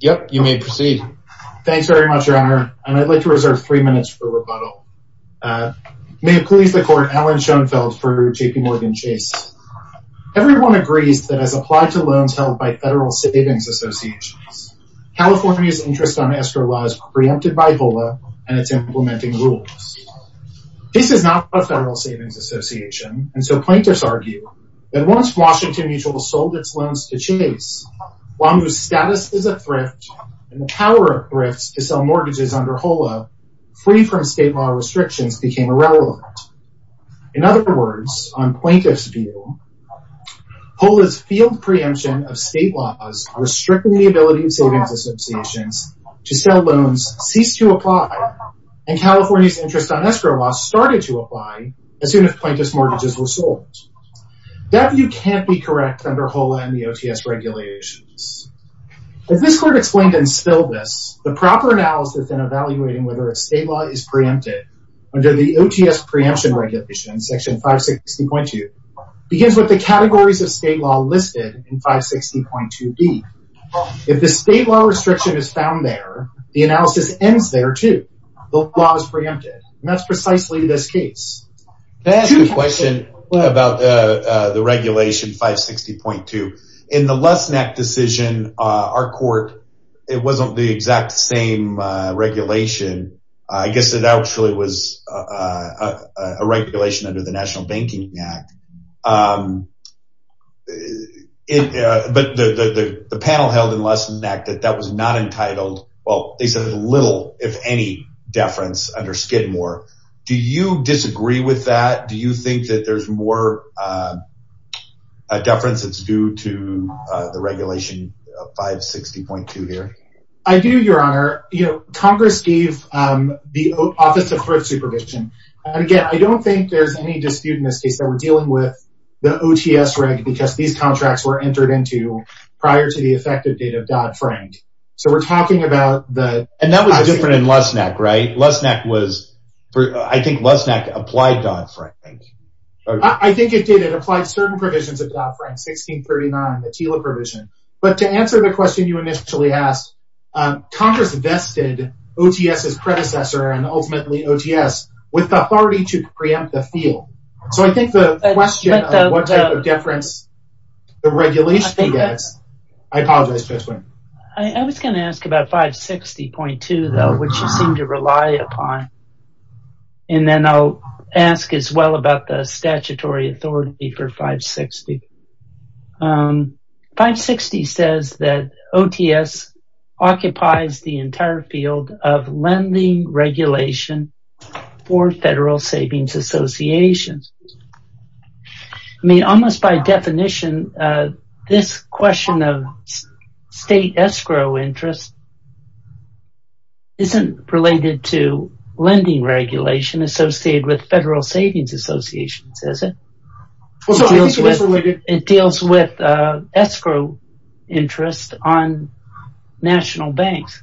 yep you may proceed thanks very much your honor and i'd like to reserve three minutes for rebuttal may it please the court alan schoenfeld for jp morgan chase everyone agrees that as applied to loans held by federal savings associations california's interest on escrow law is preempted by vola and it's implementing rules this is not a federal savings association and so plaintiffs argue that once washington mutual sold its loans to chase wamu's status is a thrift and the power of thrifts to sell mortgages under hola free from state law restrictions became irrelevant in other words on plaintiff's view hola's field preemption of state laws restricting the ability of savings associations to sell loans ceased to apply and california's interest on escrow law started to apply as soon as plaintiff's mortgages were sold that view can't be correct under hola and the ots regulations as this court explained and spilled this the proper analysis and evaluating whether a state law is preempted under the ots preemption regulation section 560.2 begins with the categories of state law listed in 560.2b if the state law restriction is found there the analysis ends there too the law is preempted and that's precisely this case to ask a question what about uh the regulation 560.2 in the less neck decision uh our court it wasn't the exact same uh regulation i guess it actually was uh a regulation under the national well they said little if any deference under skidmore do you disagree with that do you think that there's more uh a deference it's due to uh the regulation of 560.2 here i do your honor you know congress gave um the office of thrift supervision and again i don't think there's any dispute in this case that we're dealing with the ots reg because these contracts were entered into prior to the effective date of dodd-frank so we're talking about the and that was different in less neck right less neck was i think less neck applied dodd-frank i think it did it applied certain provisions of dodd-frank 1639 the tela provision but to answer the question you initially asked um congress vested ots's predecessor and ultimately ots with the authority to preempt the i apologize i was going to ask about 560.2 though which you seem to rely upon and then i'll ask as well about the statutory authority for 560. 560 says that ots occupies the entire field of lending regulation for federal savings associations i mean almost by definition uh this question of state escrow interest isn't related to lending regulation associated with federal savings associations is it it deals with uh escrow interest on national banks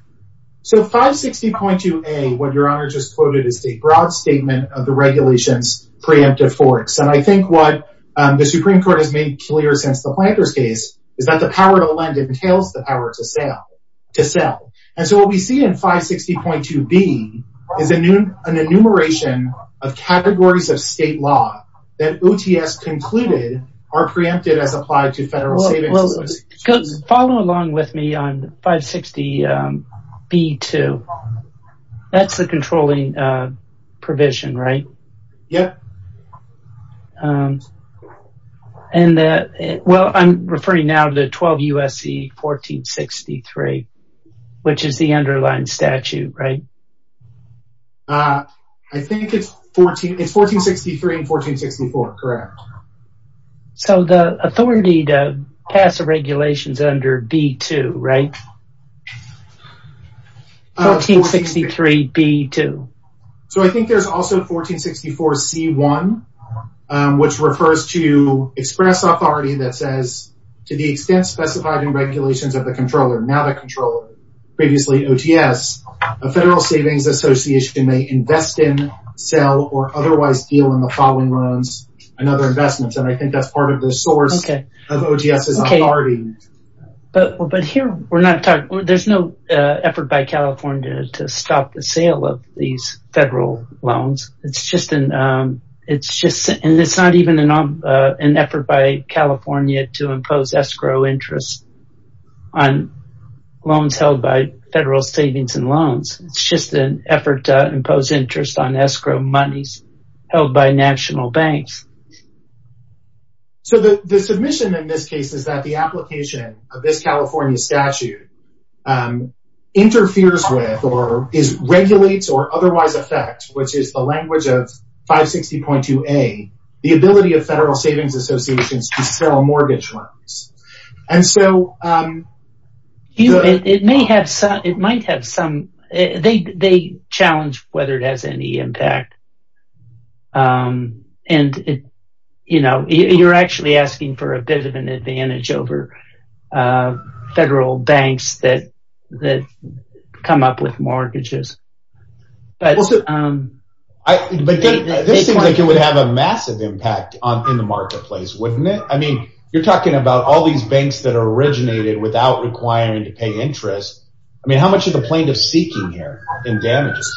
so 560.2a what your honor just quoted is a broad statement of the regulations preemptive forks and i think what the supreme court has made clear since the planter's case is that the power to lend entails the power to sell to sell and so what we see in 560.2b is a new an enumeration of categories of state law that ots concluded are preempted as applied to federal savings follow along with me on 560 b2 that's the controlling uh provision right yeah um and the well i'm referring now to 12 usc 1463 which is the underlying statute right uh i think it's 14 it's 1463 and 1464 correct so the authority to pass the regulations under b2 right 1463 b2 so i think there's also 1464 c1 which refers to express authority that says to the extent specified in regulations of the controller not a controller previously ots a federal savings association may invest in sell or otherwise deal in the following loans and other we're not talking there's no uh effort by california to stop the sale of these federal loans it's just an um it's just and it's not even an um uh an effort by california to impose escrow interest on loans held by federal savings and loans it's just an effort to impose interest on escrow monies held by national banks so the the submission in this case is that the application of this california statute um interferes with or is regulates or otherwise affects which is the language of 560.2a the ability of federal savings associations to sell mortgage loans and so um you it may have some it might have some they they challenge whether it has any impact um and it you know you're actually asking for a bit of an advantage over uh federal banks that that come up with mortgages but um i but this seems like it would have a massive impact on in the marketplace wouldn't it i mean you're talking about all these banks that are originated without requiring to pay interest i mean how much of the plaintiff seeking here in damages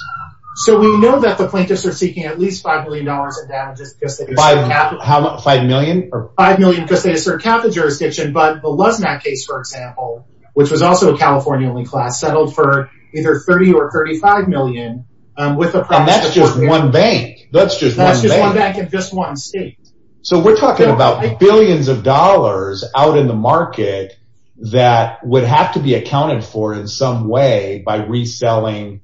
so we know that the plaintiffs are seeking at least five million dollars in damages five how much five million or five million because they assert capital jurisdiction but the luzmat case for example which was also a california-only class settled for either 30 or 35 million um with a that's just one bank that's just that's just one bank in just one state so we're talking about billions of dollars out in the market that would have to be accounted for in some way by reselling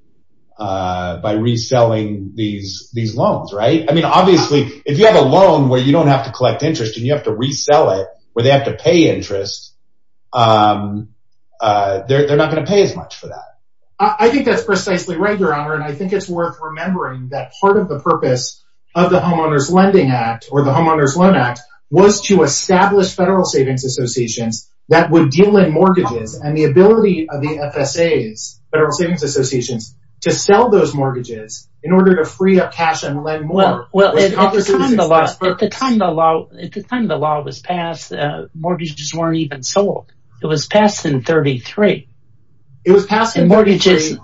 uh by reselling these these loans right i mean obviously if you have a loan where you don't have to collect interest and you have to resell it where they have to pay interest um uh they're not going to pay as much for that i think that's precisely right your honor and i think it's worth remembering that part of the purpose of the homeowners lending act or the homeowners loan act was to establish federal savings associations that would deal in mortgages and the ability of the fsa's federal savings associations to sell those mortgages in order to free up cash and lend more well at the time the law at the time the law was passed uh mortgages weren't even sold it was passed in 33 it was passed in mortgages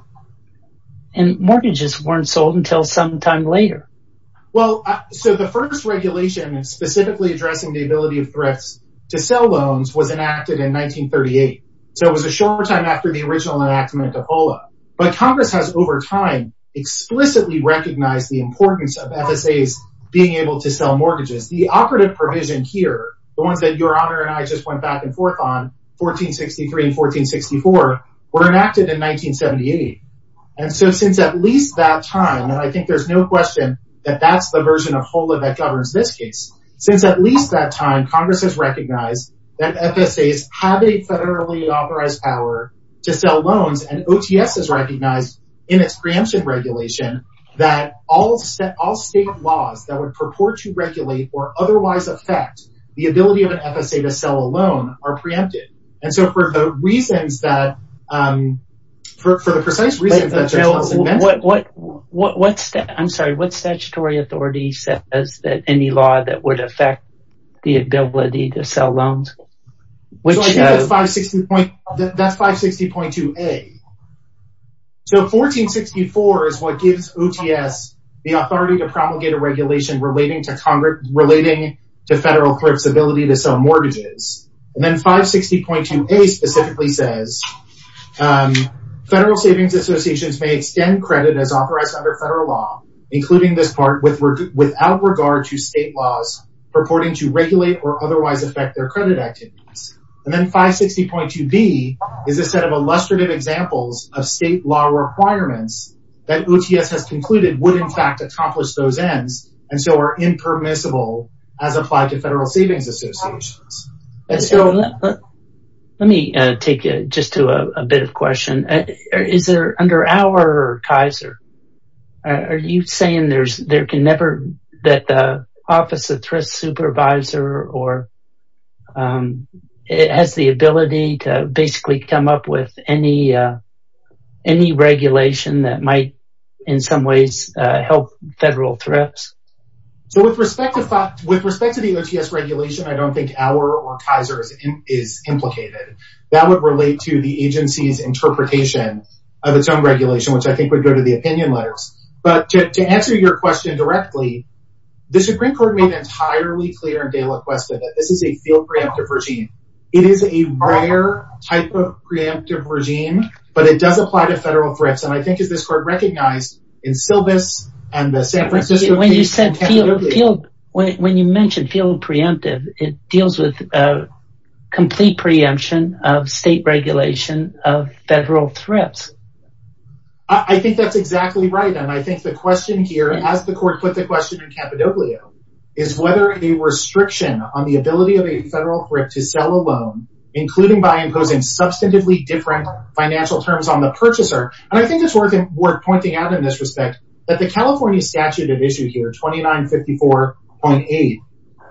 and mortgages weren't sold until some time later well so the first regulation specifically addressing the ability of threats to sell loans was enacted in 1938 so it was a short time after the original enactment of hola but congress has over time explicitly recognized the importance of fsa's being able to sell mortgages the operative provision here the ones that your honor and i just went back and forth on 1463 and 1464 were enacted in 1978 and so since at least that time and i think there's no question that that's the version of hola that governs this case since at least that time congress has recognized that fsa's have a federally authorized power to sell loans and ots is recognized in its preemption regulation that all set all state laws that would purport to regulate or otherwise affect the ability of an fsa to sell a loan are preempted and so for the reasons that um for the precise reason what what what what's that i'm sorry what statutory authority says that any law that would affect the ability to sell loans which is 560 point that's 560.2a so 1464 is what gives ots the authority to promulgate a regulation relating to congress relating to federal mortgages and then 560.2a specifically says um federal savings associations may extend credit as authorized under federal law including this part with without regard to state laws purporting to regulate or otherwise affect their credit activities and then 560.2b is a set of illustrative examples of state law requirements that ots has concluded would in fact accomplish those ends and so are impermissible as applied to federal savings associations. Let me take it just to a bit of question is there under our kaiser are you saying there's there can never that the office of thrift supervisor or um it has the ability to basically come up with any uh any regulation that might in some ways uh help federal threats? So with respect to thought with respect to the ots regulation i don't think our or kaiser's is implicated that would relate to the agency's interpretation of its own regulation which i think would go to the opinion letters but to answer your question directly the supreme court made entirely clear in gala quest that this is a field preemptive regime it is a rare type of preemptive regime but it does apply to federal threats and i think is this court recognized in sylvis and the san francisco when you said field field when you mentioned field preemptive it deals with a complete preemption of state regulation of federal threats i think that's whether a restriction on the ability of a federal threat to sell a loan including by imposing substantively different financial terms on the purchaser and i think it's worth pointing out in this respect that the california statute of issue here 29 54.8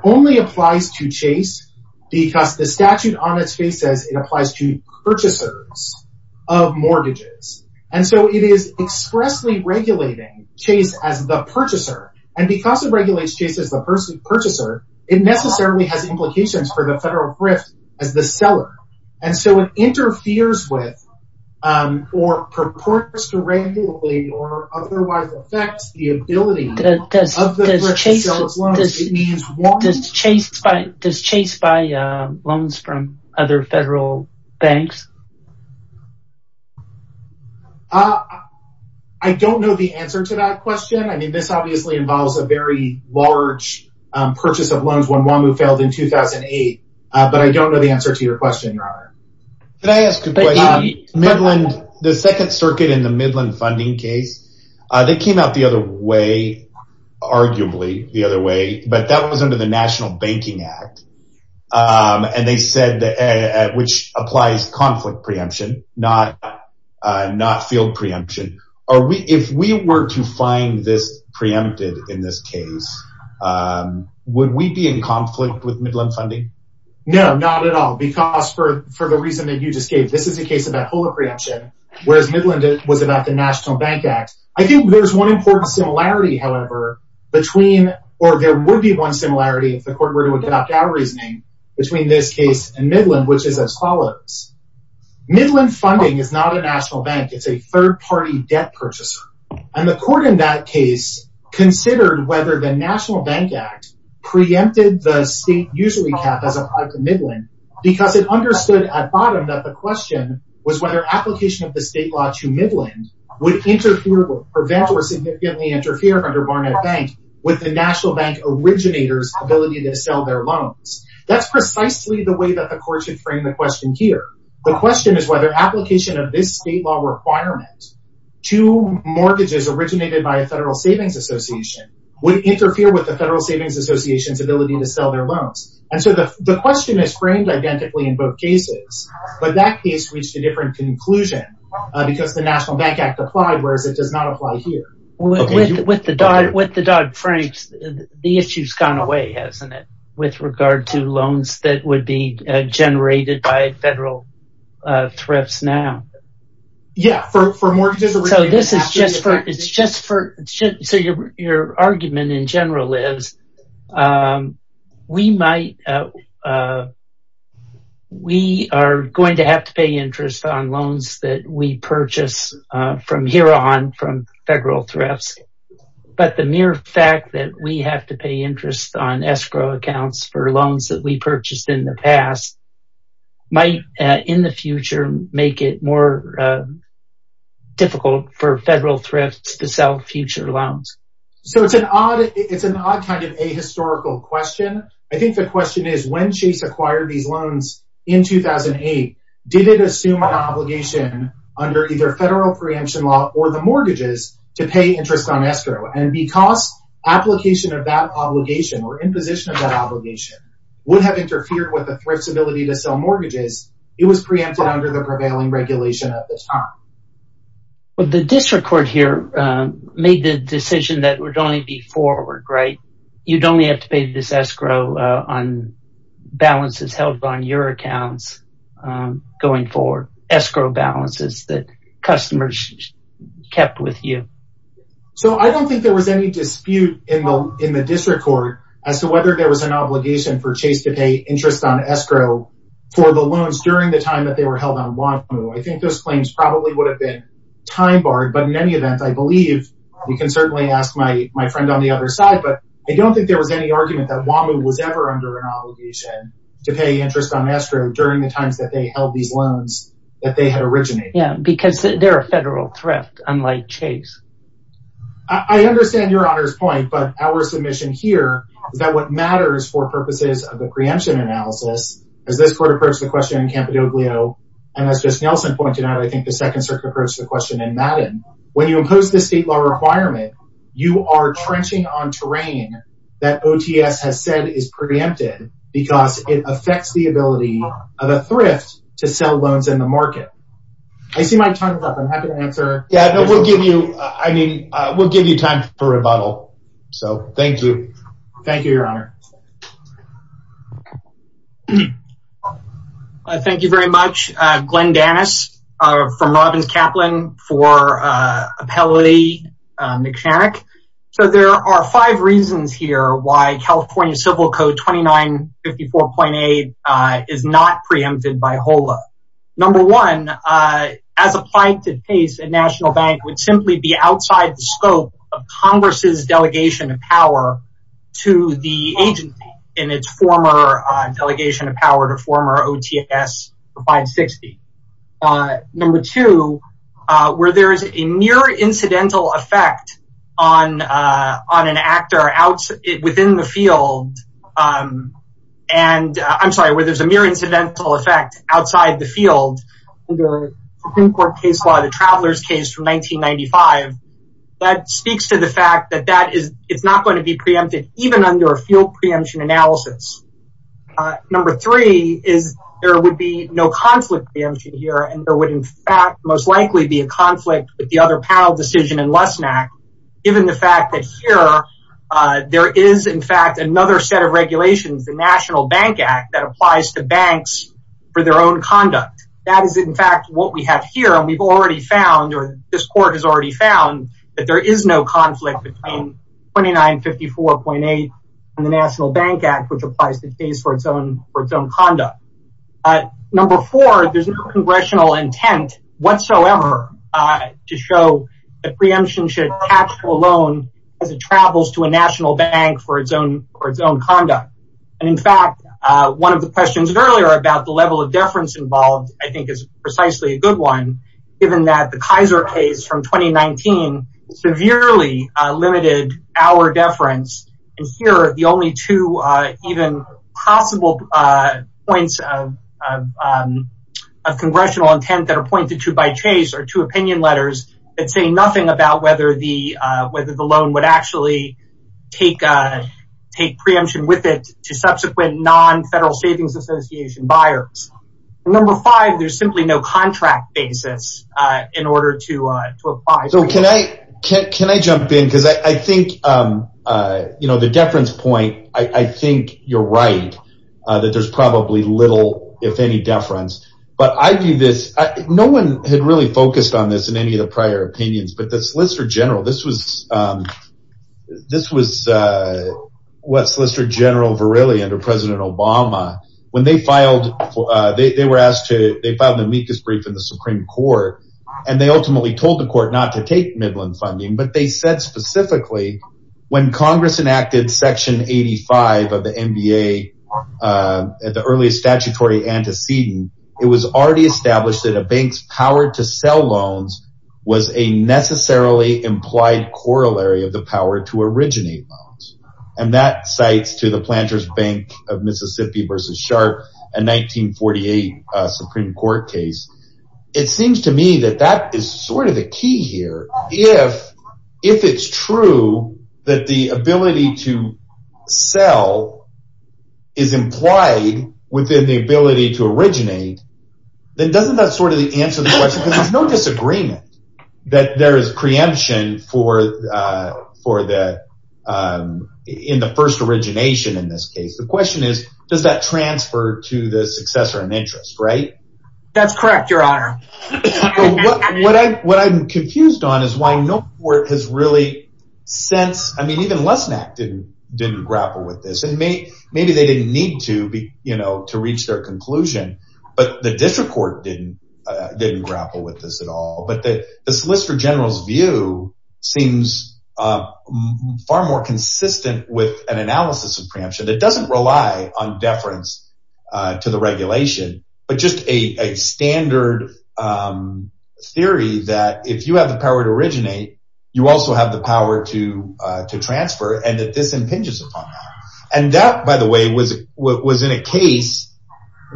only applies to chase because the statute on its face says it applies to purchasers of mortgages and so it is expressly chase as the purchaser and because it regulates chase as the person purchaser it necessarily has implications for the federal thrift as the seller and so it interferes with um or purports to regularly or otherwise affects the ability of the the answer to that question i mean this obviously involves a very large um purchase of loans when wamu failed in 2008 but i don't know the answer to your question your honor can i ask midland the second circuit in the midland funding case uh they came out the other way arguably the other way but that was under the national banking act um and they said that which applies conflict preemption not uh not field preemption are we if we were to find this preempted in this case um would we be in conflict with midland funding no not at all because for for the reason that you just gave this is a case about hola preemption whereas midland was about the national bank act i think there's one important similarity however between or there would be one similarity if the court were to which is as follows midland funding is not a national bank it's a third-party debt purchaser and the court in that case considered whether the national bank act preempted the state usually cap as applied to midland because it understood at bottom that the question was whether application of the state law to midland would interfere prevent or significantly interfere under barnett bank with the national bank originators ability to sell their loans that's precisely the way that the court should frame the question here the question is whether application of this state law requirement to mortgages originated by a federal savings association would interfere with the federal savings association's ability to sell their loans and so the the question is framed identically in both cases but that case reached a different conclusion because the national bank act applied whereas it does not apply here with the dog with the dog franks the issue's gone away with regard to loans that would be generated by federal uh thrifts now yeah for mortgages so this is just for it's just for so your argument in general is um we might uh uh we are going to have to pay interest on loans that we purchase uh from here on from federal thrifts but the mere fact that we have to pay interest on escrow accounts for loans that we purchased in the past might in the future make it more uh difficult for federal thrifts to sell future loans so it's an odd it's an odd kind of a historical question i think the question is when chase acquired these loans in 2008 did it assume an obligation under either federal preemption law or the mortgages to pay interest on escrow and because application of that obligation or imposition of that obligation would have interfered with the thrift's ability to sell mortgages it was preempted under the prevailing regulation at the time well the district court here made the decision that would only be forward right you'd only have to pay this escrow on balances held on your accounts um going for escrow balances that customers kept with you so i don't think there was any dispute in the in the district court as to whether there was an obligation for chase to pay interest on escrow for the loans during the time that they were held on wamu i think those claims probably would have been time barred but in any event i believe we can certainly ask my my friend on the other side but i don't think there was any argument that wamu was ever under an obligation to pay interest on escrow during the times that they held these loans that they had originated yeah because they're a federal thrift unlike chase i understand your honor's point but our submission here is that what matters for purposes of the preemption analysis as this court approached the question in campedoglio and as just nelson pointed out i think the second circuit approached the question in madden when you impose the state law requirement you are trenching on terrain that ots has said is preempted because it affects the ability of a thrift to sell loans in the market i see my tongue is up i'm happy to answer yeah no we'll give you i mean uh we'll give you time for rebuttal so thank you thank you your honor uh thank you very much uh glenn danis uh from robin's caplan for uh appellate uh mcshannock so there are five reasons here why california civil code 29 54.8 uh is not preempted by hola number one uh as applied to pace at national bank would simply be outside the scope of congress's in its former delegation of power to former ots 560. uh number two uh where there is a near incidental effect on uh on an actor out within the field um and i'm sorry where there's a mere incidental effect outside the field under court case law the travelers case from 1995 that speaks to the fact that that is it's not going to be preempted even under a field preemption analysis uh number three is there would be no conflict preemption here and there would in fact most likely be a conflict with the other panel decision in lessnack given the fact that here uh there is in fact another set of regulations the national bank act that applies to banks for their own conduct that is in fact what we have here and we've already found or this court has already found that there is no conflict between 29 54.8 and the national bank act which applies to case for its own for its own conduct uh number four there's no congressional intent whatsoever uh to show the preemption should hatch alone as it travels to a national bank for its own for its own conduct and in fact uh one of the questions earlier about the level of deference involved i think is precisely a good one given that the kaiser case from 2019 severely uh limited our deference and here the only two uh even possible uh points of um of congressional intent that are pointed to by chase are two opinion letters that say nothing about whether the uh whether the loan would actually take uh take preemption with it to subsequent non-federal savings association buyers number five there's simply no contract basis uh in order to uh to apply so can i can i jump in because i i think um uh you know the deference point i i think you're right uh that there's probably little if any deference but i view this no one had really focused on this in any of the prior opinions but the solicitor general this was um this was uh what solicitor general virilli under president obama when they filed uh they were asked to they found the meekest brief in the supreme court and they ultimately told the court not to take midland funding but they said specifically when congress enacted section 85 of the nba uh at the earliest statutory antecedent it was already established that a bank's power to sell loans was a necessarily implied corollary of the power to originate loans and that cites to the planters bank of mississippi versus sharp a 1948 uh supreme court case it seems to me that that is sort of the key here if if it's true that the ability to sell is implied within the ability to originate then doesn't that sort of answer the question because there's no disagreement that there is preemption for uh for the um in the first origination in this case the question is does that transfer to the successor in interest right that's correct your honor what i what i'm confused on is why no court has really since i mean even less neck didn't didn't grapple with this and maybe maybe they didn't need to be you know to reach their conclusion but the district court didn't uh didn't grapple with this at all but that the solicitor general's view seems uh far more consistent with an analysis of preemption that doesn't rely on deference uh to the regulation but just a a standard um theory that if you have the power to originate you also have the power to uh to transfer and that this impinges upon that and that by the way was what was in a case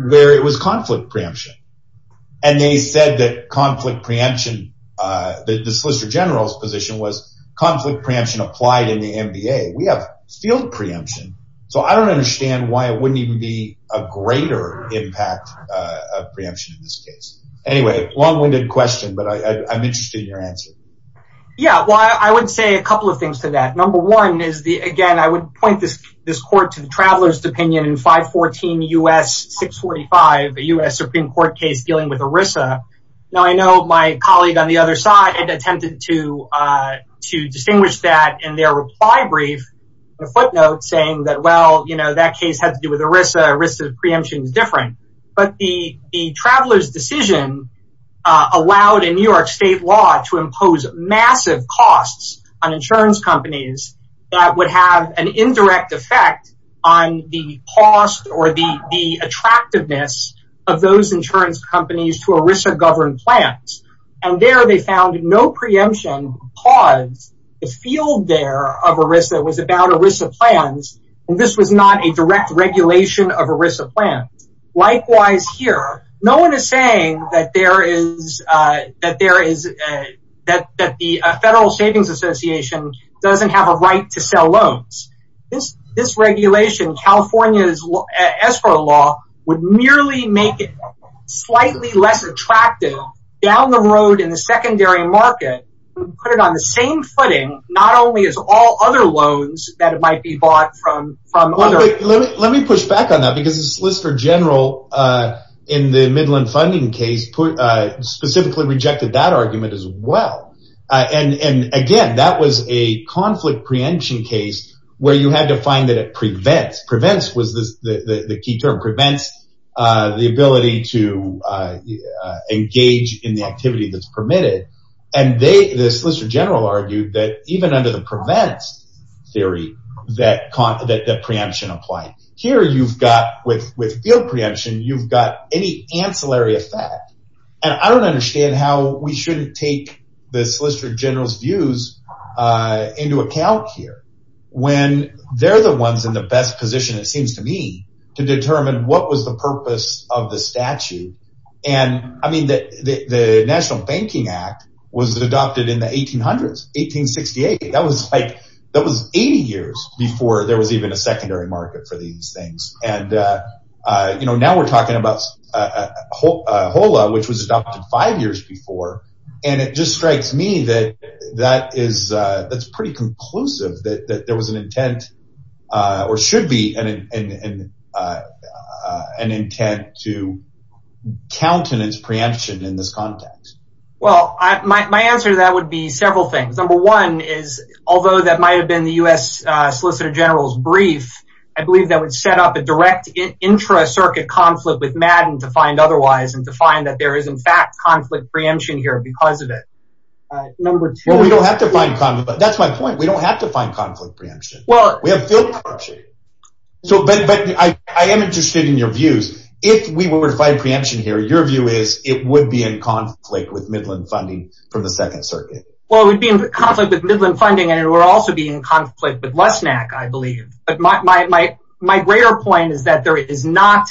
where it was conflict preemption and they said that conflict preemption uh the solicitor general's position was conflict preemption applied in the mba we have field preemption so i don't understand why it wouldn't even be a greater impact uh of preemption in this case anyway long-winded question but i i'm interested in your answer yeah well i would say a couple of things to that number one is the again i would point this this court to the traveler's opinion in 514 us 645 a u.s supreme court case dealing with erisa now i know my colleague on the other side had attempted to uh to distinguish that in their reply brief a footnote saying that well you know that uh allowed a new york state law to impose massive costs on insurance companies that would have an indirect effect on the cost or the the attractiveness of those insurance companies to erisa govern plans and there they found no preemption pause the field there of erisa was about erisa plans and this was not a direct regulation of erisa plan likewise here no one is saying that there is uh that there is uh that that the federal savings association doesn't have a right to sell loans this this regulation california's escrow law would merely make it slightly less attractive down the road in the secondary market put it on the same footing not only as all other loans that might be bought from from other let me push back on that because the solicitor general uh in the midland funding case put uh specifically rejected that argument as well uh and and again that was a conflict preemption case where you had to find that it prevents prevents was this the the key term prevents uh the ability to uh engage in the activity that's permitted and they the solicitor general argued that even under the prevents theory that con that the preemption applied here you've got with with field preemption you've got any ancillary effect and i don't understand how we shouldn't take the solicitor general's views uh into account here when they're the ones in the best position it seems to me to determine what was the purpose of the statute and i mean that the national banking act was adopted in the 1800s that was like that was 80 years before there was even a secondary market for these things and uh uh you know now we're talking about uh hola which was adopted five years before and it just strikes me that that is uh that's pretty conclusive that that there was an intent uh or should be an in an intent to countenance preemption in this context well i my answer to several things number one is although that might have been the u.s uh solicitor general's brief i believe that would set up a direct intra-circuit conflict with madden to find otherwise and to find that there is in fact conflict preemption here because of it all right number two we don't have to find con but that's my point we don't have to find conflict preemption well we have field so but but i i am interested in your views if we were to find preemption here your view is it would be in conflict with midland funding from the second circuit well it would be in conflict with midland funding and it would also be in conflict with lesnac i believe but my my my greater point is that there is not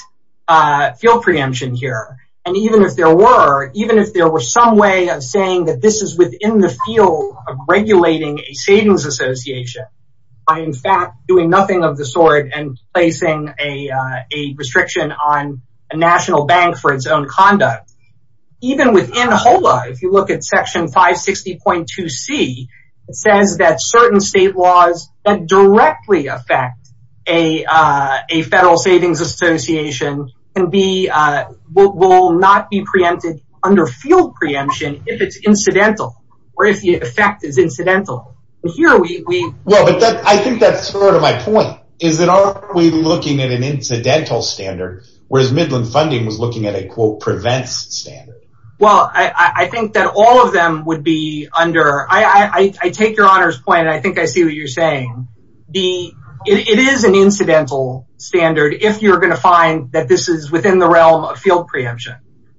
uh field preemption here and even if there were even if there were some way of saying that this is within the field of regulating a savings association by in fact doing nothing of the sort and placing a uh a restriction on a national bank for its own conduct even within hola if you look at section 560.2 c it says that certain state laws that directly affect a uh a federal savings association can be uh will not be preempted under field preemption if it's incidental or if the effect is incidental here we we well but that i think that's sort of my point is that are we looking at an incidental standard whereas midland funding was looking at a quote prevents standard well i i think that all of them would be under i i i take your honor's point and i think i see what you're saying the it is an incidental standard if you're going to find that this is within the realm of field preemption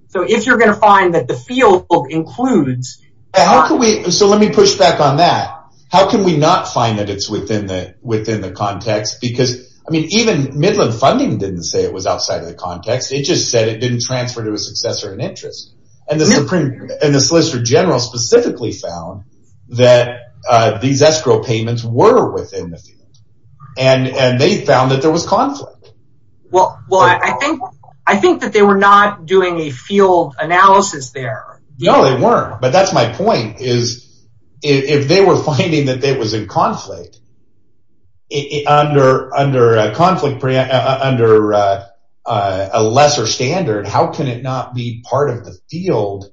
so if you're going to find that the field includes how can we so let me push back on that how can we not find that it's within the within the context because i mean even midland funding didn't say it was outside of the it just said it didn't transfer to a successor in interest and the supreme and the solicitor general specifically found that uh these escrow payments were within the field and and they found that there was conflict well well i think i think that they were not doing a field analysis there no they weren't but that's my point is if they were finding that there was in conflict it under under a conflict under uh uh a lesser standard how can it not be part of the field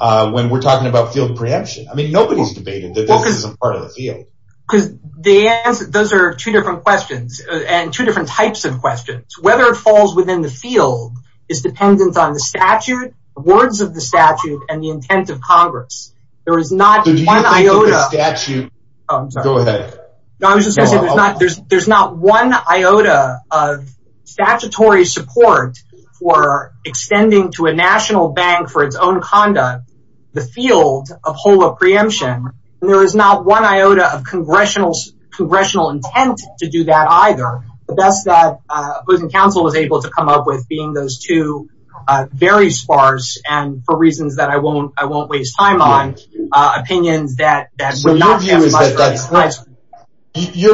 uh when we're talking about field preemption i mean nobody's debated that this isn't part of the field because the answer those are two different questions and two different types of questions whether it falls within the field is dependent on the statute words of the statute and the intent of congress there is not one iota statute oh i'm sorry go ahead no i was just gonna say there's not there's there's not one iota of statutory support for extending to a national bank for its own conduct the field of whole of preemption there is not one iota of congressional congressional intent to do that either but that's that uh opposing council was able to come up with being those two uh very sparse and for reasons that i won't i won't waste time on uh opinions that your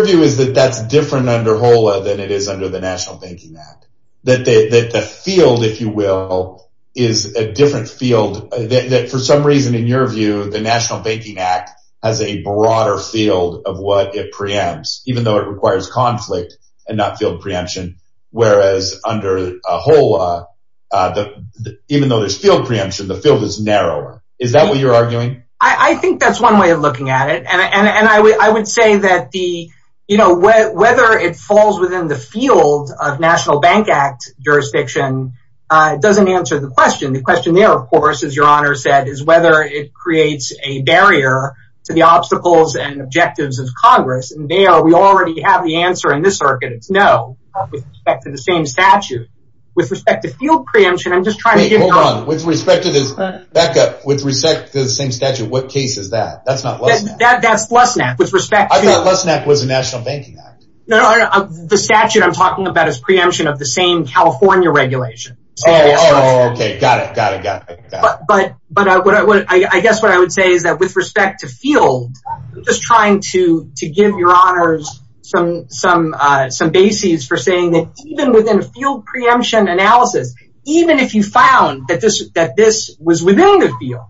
view is that that's different under hola than it is under the national banking act that the the field if you will is a different field that for some reason in your view the national banking act has a broader field of what it preempts even though it requires conflict and not field preemption whereas under a whole uh the even though there's field preemption the field is narrower is that what you're arguing i i think that's one way of looking at it and and i would i would say that the you know whether it falls within the field of national bank act jurisdiction uh it doesn't answer the question the question there of course as your honor said is whether it creates a barrier to the obstacles and objectives of congress and there we already have the answer in this circuit it's no with respect to the same statute with respect to field preemption i'm just trying to get hold on with respect to this backup with respect to the same statute what case is that that's not that that's less than that with respect i thought less than that was a national banking act no no the statute i'm talking about is preemption of the same california regulation oh okay got it got it got it but but but what i would i guess what i would say is that with respect to field i'm just trying to to give your honors some some uh some bases for saying that even within a field preemption analysis even if you found that this that this was within the field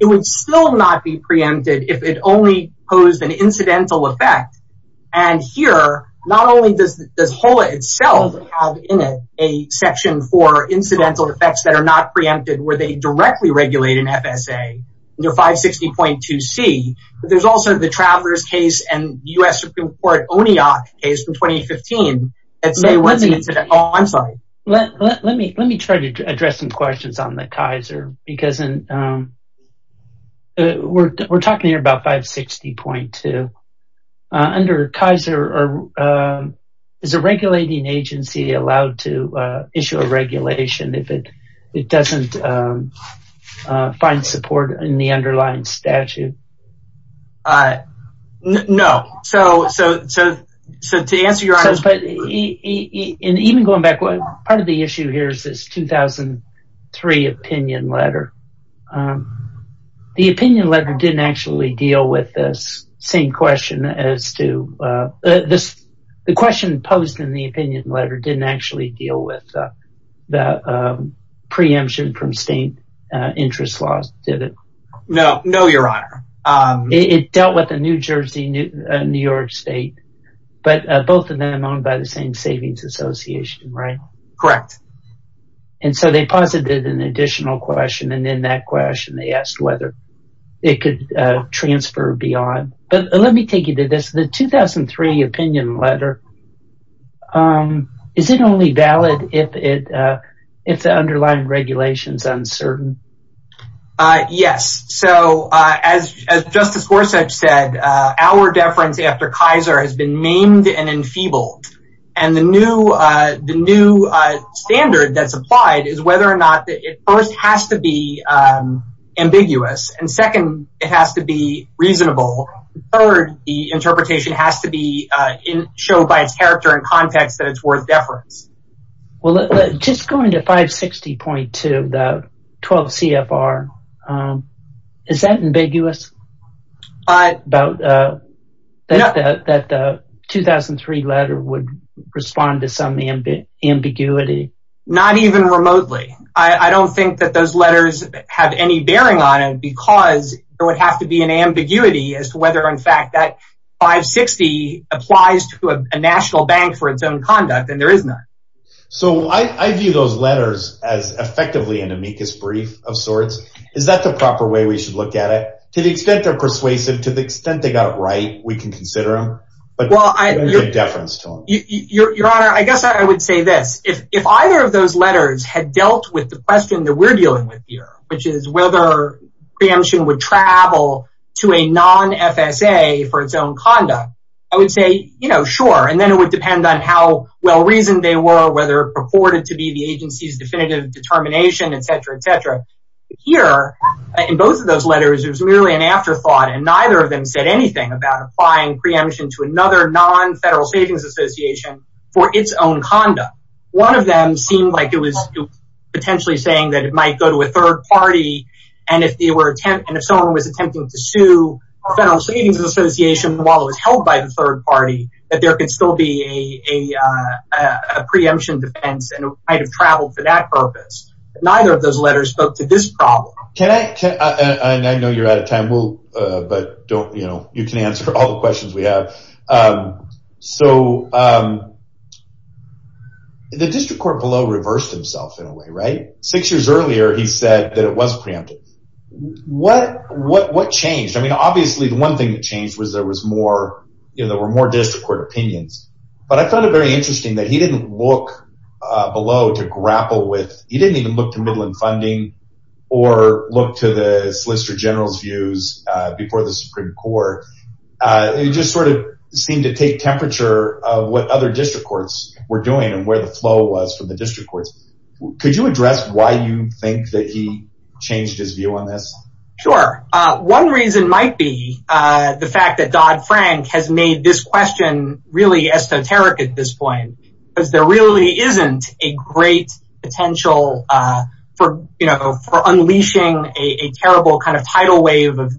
it would still not be preempted if it only posed an incidental effect and here not only does this whole itself have in it a section for incidental effects that are not preempted where they directly regulate an fsa under 560.2 c but there's also the travelers case and u.s supreme court onioc case from 2015 that say what's an incident oh i'm sorry let let me let me try to address some questions on the kaiser because um we're we're talking here about 560.2 uh under kaiser or um is a regulating agency allowed to uh issue a regulation if it it doesn't um uh find support in the underlying statute uh no so so so so to answer your honors and even going back what part of the issue here is this 2003 opinion letter um the opinion letter didn't actually deal with this same question as to uh this the question posed in the opinion letter didn't actually deal with the preemption from state uh interest laws did it no no your honor um it dealt with the new jersey new york state but both of them owned by the same savings association right correct and so they posited an additional question and in that question they asked whether it could uh transfer beyond but let me take you to this the 2003 opinion letter um is it only valid if it uh if the underlying regulation is uncertain uh yes so uh as as justice horsuch said uh our deference after kaiser has been named and enfeebled and the new uh the and second it has to be reasonable third the interpretation has to be uh in show by its character and context that it's worth deference well just going to 560.2 the 12 cfr um is that ambiguous but about uh that the 2003 letter would respond to some ambiguity not even remotely i i don't think that those letters have any bearing on it because there would have to be an ambiguity as to whether in fact that 560 applies to a national bank for its own conduct and there is none so i i view those letters as effectively an amicus brief of sorts is that the proper way we should look at it to the extent they're persuasive to the extent they got it right we can consider them but well i your deference to them your your honor i guess i would say this if if either of letters had dealt with the question that we're dealing with here which is whether preemption would travel to a non-fsa for its own conduct i would say you know sure and then it would depend on how well reasoned they were whether it purported to be the agency's definitive determination etc etc here in both of those letters there's merely an afterthought and neither of them said anything about applying preemption to another non-federal savings association for its own conduct one of seemed like it was potentially saying that it might go to a third party and if they were attempting if someone was attempting to sue a federal savings association while it was held by the third party that there could still be a a a preemption defense and it might have traveled for that purpose but neither of those letters spoke to this problem can i can i i know you're out of time we'll uh but don't you know you can answer all the questions we have um so um the district court below reversed himself in a way right six years earlier he said that it was preemptive what what what changed i mean obviously the one thing that changed was there was more you know there were more district court opinions but i found it very interesting that he didn't look uh below to grapple with he didn't even look to midland funding or look to the solicitor general's views uh before the supreme court uh it just sort of seemed to take temperature of what other district courts were doing and where the flow was from the district courts could you address why you think that he changed his view on this sure uh one reason might be uh the fact that dodd frank has made this question really esoteric at this point because there really isn't a great potential uh for you know for unleashing a a terrible kind of tidal wave of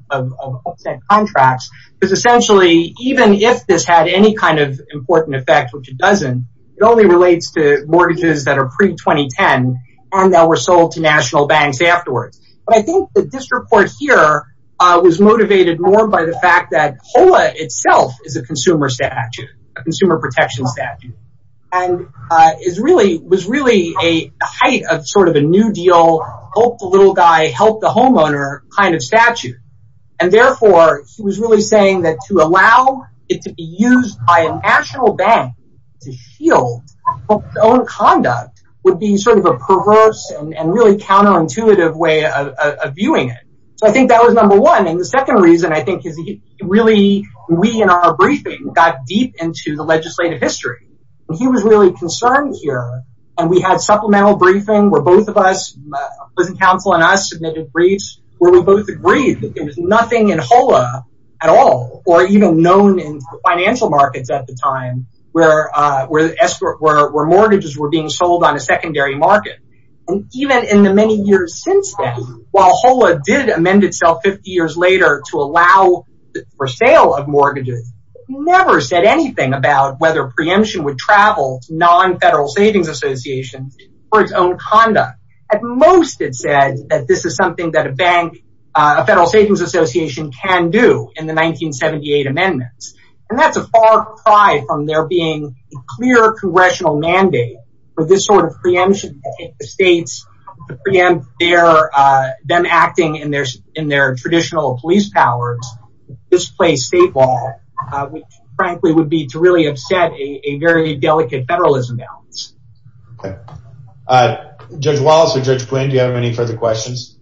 it only relates to mortgages that are pre-2010 and that were sold to national banks afterwards but i think the district court here uh was motivated more by the fact that hola itself is a consumer statute a consumer protection statute and uh is really was really a height of sort of a new deal hope the little guy helped the homeowner kind of statute and therefore he was really saying that to allow it to be used by a national bank to shield its own conduct would be sort of a perverse and and really counterintuitive way of viewing it so i think that was number one and the second reason i think is really we in our briefing got deep into the legislative history he was really concerned here and we had supplemental briefing where both of us council and i submitted briefs where we both agreed that there was nothing in hola at all or even known in financial markets at the time where uh where the escort where mortgages were being sold on a secondary market and even in the many years since then while hola did amend itself 50 years later to allow for sale of mortgages never said anything about whether preemption non-federal savings association for its own conduct at most it said that this is something that a bank a federal savings association can do in the 1978 amendments and that's a far cry from there being a clear congressional mandate for this sort of preemption the states to preempt their uh them acting in their in their traditional police powers this place state law which frankly would be to really upset a very delicate federalism balance okay uh judge wallace or judge quinn do you have any further questions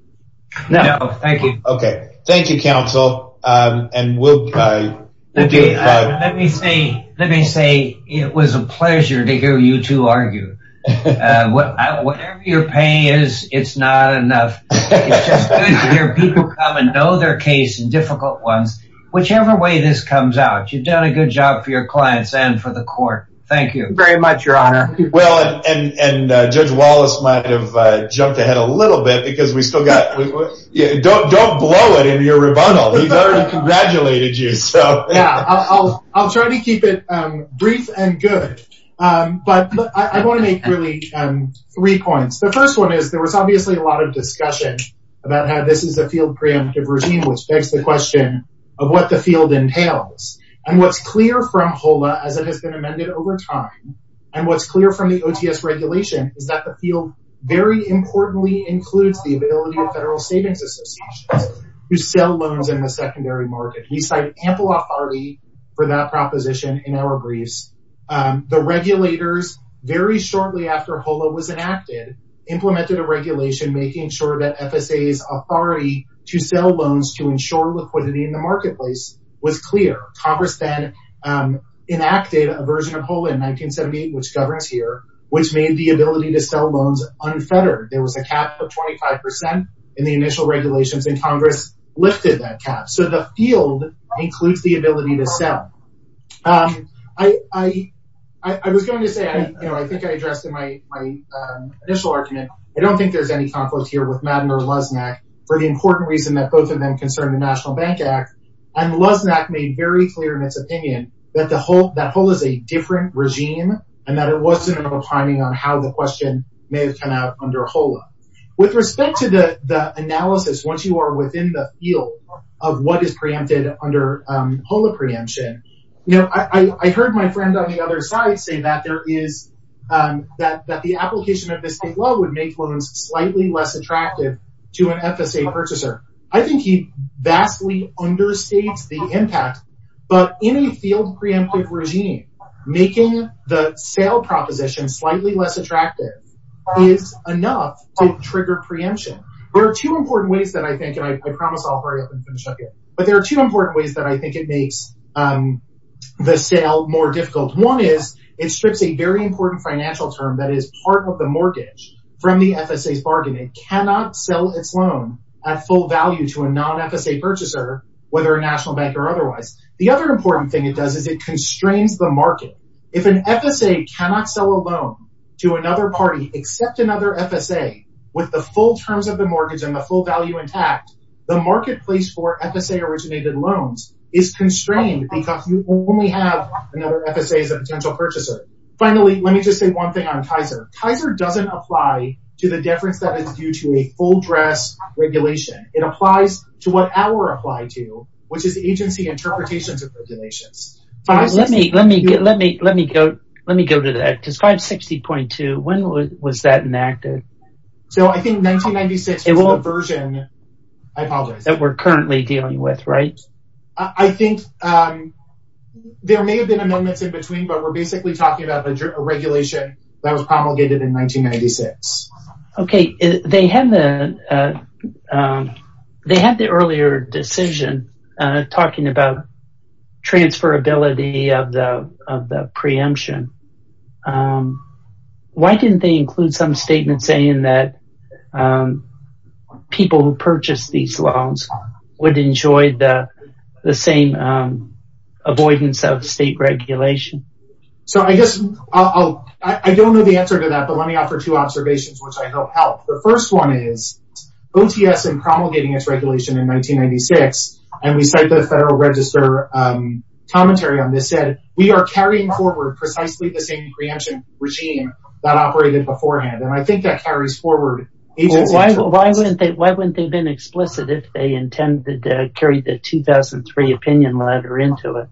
no thank you okay thank you counsel um and we'll let me say let me say it was a pleasure to hear you two argue uh whatever your pain is it's not enough it's just good to hear people come and know their case and difficult ones whichever way this comes out you've done a good job for your clients and for the court thank you very much your honor well and and uh judge wallace might have uh jumped ahead a little bit because we still got yeah don't don't blow it into your rebuttal he's already congratulated you so yeah i'll i'll try to keep it um brief and good um but i want to make really um three points the first one is there was obviously a lot of discussion about how this is a field preemptive routine which begs the and what's clear from hola as it has been amended over time and what's clear from the ots regulation is that the field very importantly includes the ability of federal savings associations to sell loans in the secondary market we cite ample authority for that proposition in our briefs the regulators very shortly after hola was enacted implemented a regulation making sure that fsa's was clear congress then um enacted a version of hola in 1978 which governs here which made the ability to sell loans unfettered there was a cap of 25 percent in the initial regulations and congress lifted that cap so the field includes the ability to sell um i i i was going to say i you know i think i addressed in my my initial argument i don't think there's any conflict here lesmac for the important reason that both of them concern the national bank act and lesmac made very clear in its opinion that the whole that whole is a different regime and that it wasn't a timing on how the question may have come out under hola with respect to the the analysis once you are within the field of what is preempted under um hola preemption you know i i heard my friend on the other side say that there is um that that the application of this state law would make loans slightly less attractive to an fsa purchaser i think he vastly understates the impact but in a field preemptive regime making the sale proposition slightly less attractive is enough to trigger preemption there are two important ways that i think and i promise i'll hurry up and finish up here but there are two important ways that i think it makes um the sale more difficult one is it strips a very important financial term that is part of the mortgage from the fsa's bargain it cannot sell its loan at full value to a non-fsa purchaser whether a national bank or otherwise the other important thing it does is it constrains the market if an fsa cannot sell a loan to another party except another fsa with the full terms of the mortgage and the full value intact the marketplace for fsa originated loans is constrained because you only have another fsa as a potential purchaser finally let me just say one thing on kaiser kaiser doesn't apply to the difference that is due to a full dress regulation it applies to what our apply to which is agency interpretations of regulations let me get let me let me go let me go to that describe 60.2 when was that enacted so i think 1996 version i apologize that we're currently dealing with right i think um there may have been amendments in between but we're basically talking about a regulation that was promulgated in 1996 okay they had the uh um they had the earlier decision uh talking about transferability of the of the preemption um why didn't they include some statement saying that people who purchase these loans would enjoy the the same um avoidance of state regulation so i guess i'll i don't know the answer to that but let me offer two observations which i hope help the first one is ots and promulgating its regulation in 1996 and we cite the federal register um commentary on this said we are carrying forward precisely the same preemption regime that operated beforehand and i think that carries forward why why wouldn't they why wouldn't they've been explicit if they intended to carry the 2003 opinion letter into it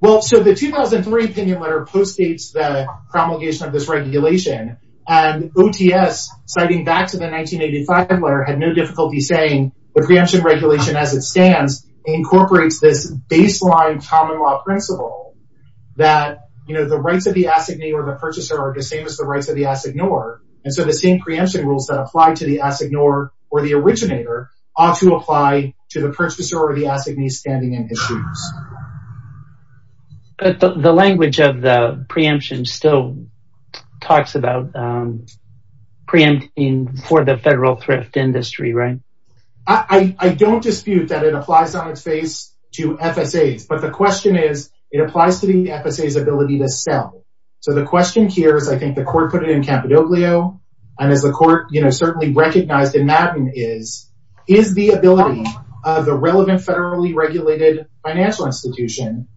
well so the 2003 opinion letter postdates the promulgation of this regulation and ots citing back to the baseline common law principle that you know the rights of the assignee or the purchaser are the same as the rights of the assignor and so the same preemption rules that apply to the assignor or the originator ought to apply to the purchaser or the assignee standing in his shoes but the language of the preemption still talks about um preempting for the federal industry right i i don't dispute that it applies on its face to fsa's but the question is it applies to the fsa's ability to sell so the question here is i think the court put it in capidoglio and as the court you know certainly recognized in madden is is the ability of the relevant federally regulated financial institution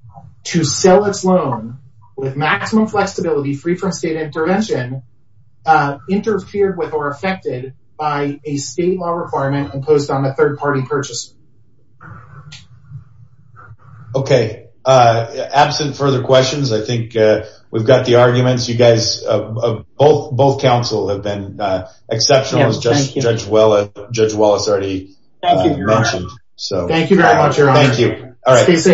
to sell its loan with maximum flexibility free from state intervention uh interfered with or affected by a state law requirement imposed on the third party purchaser okay uh absent further questions i think uh we've got the arguments you guys of both both counsel have been uh exceptional as judge judge well judge wallace already thank so thank you very much thank you all right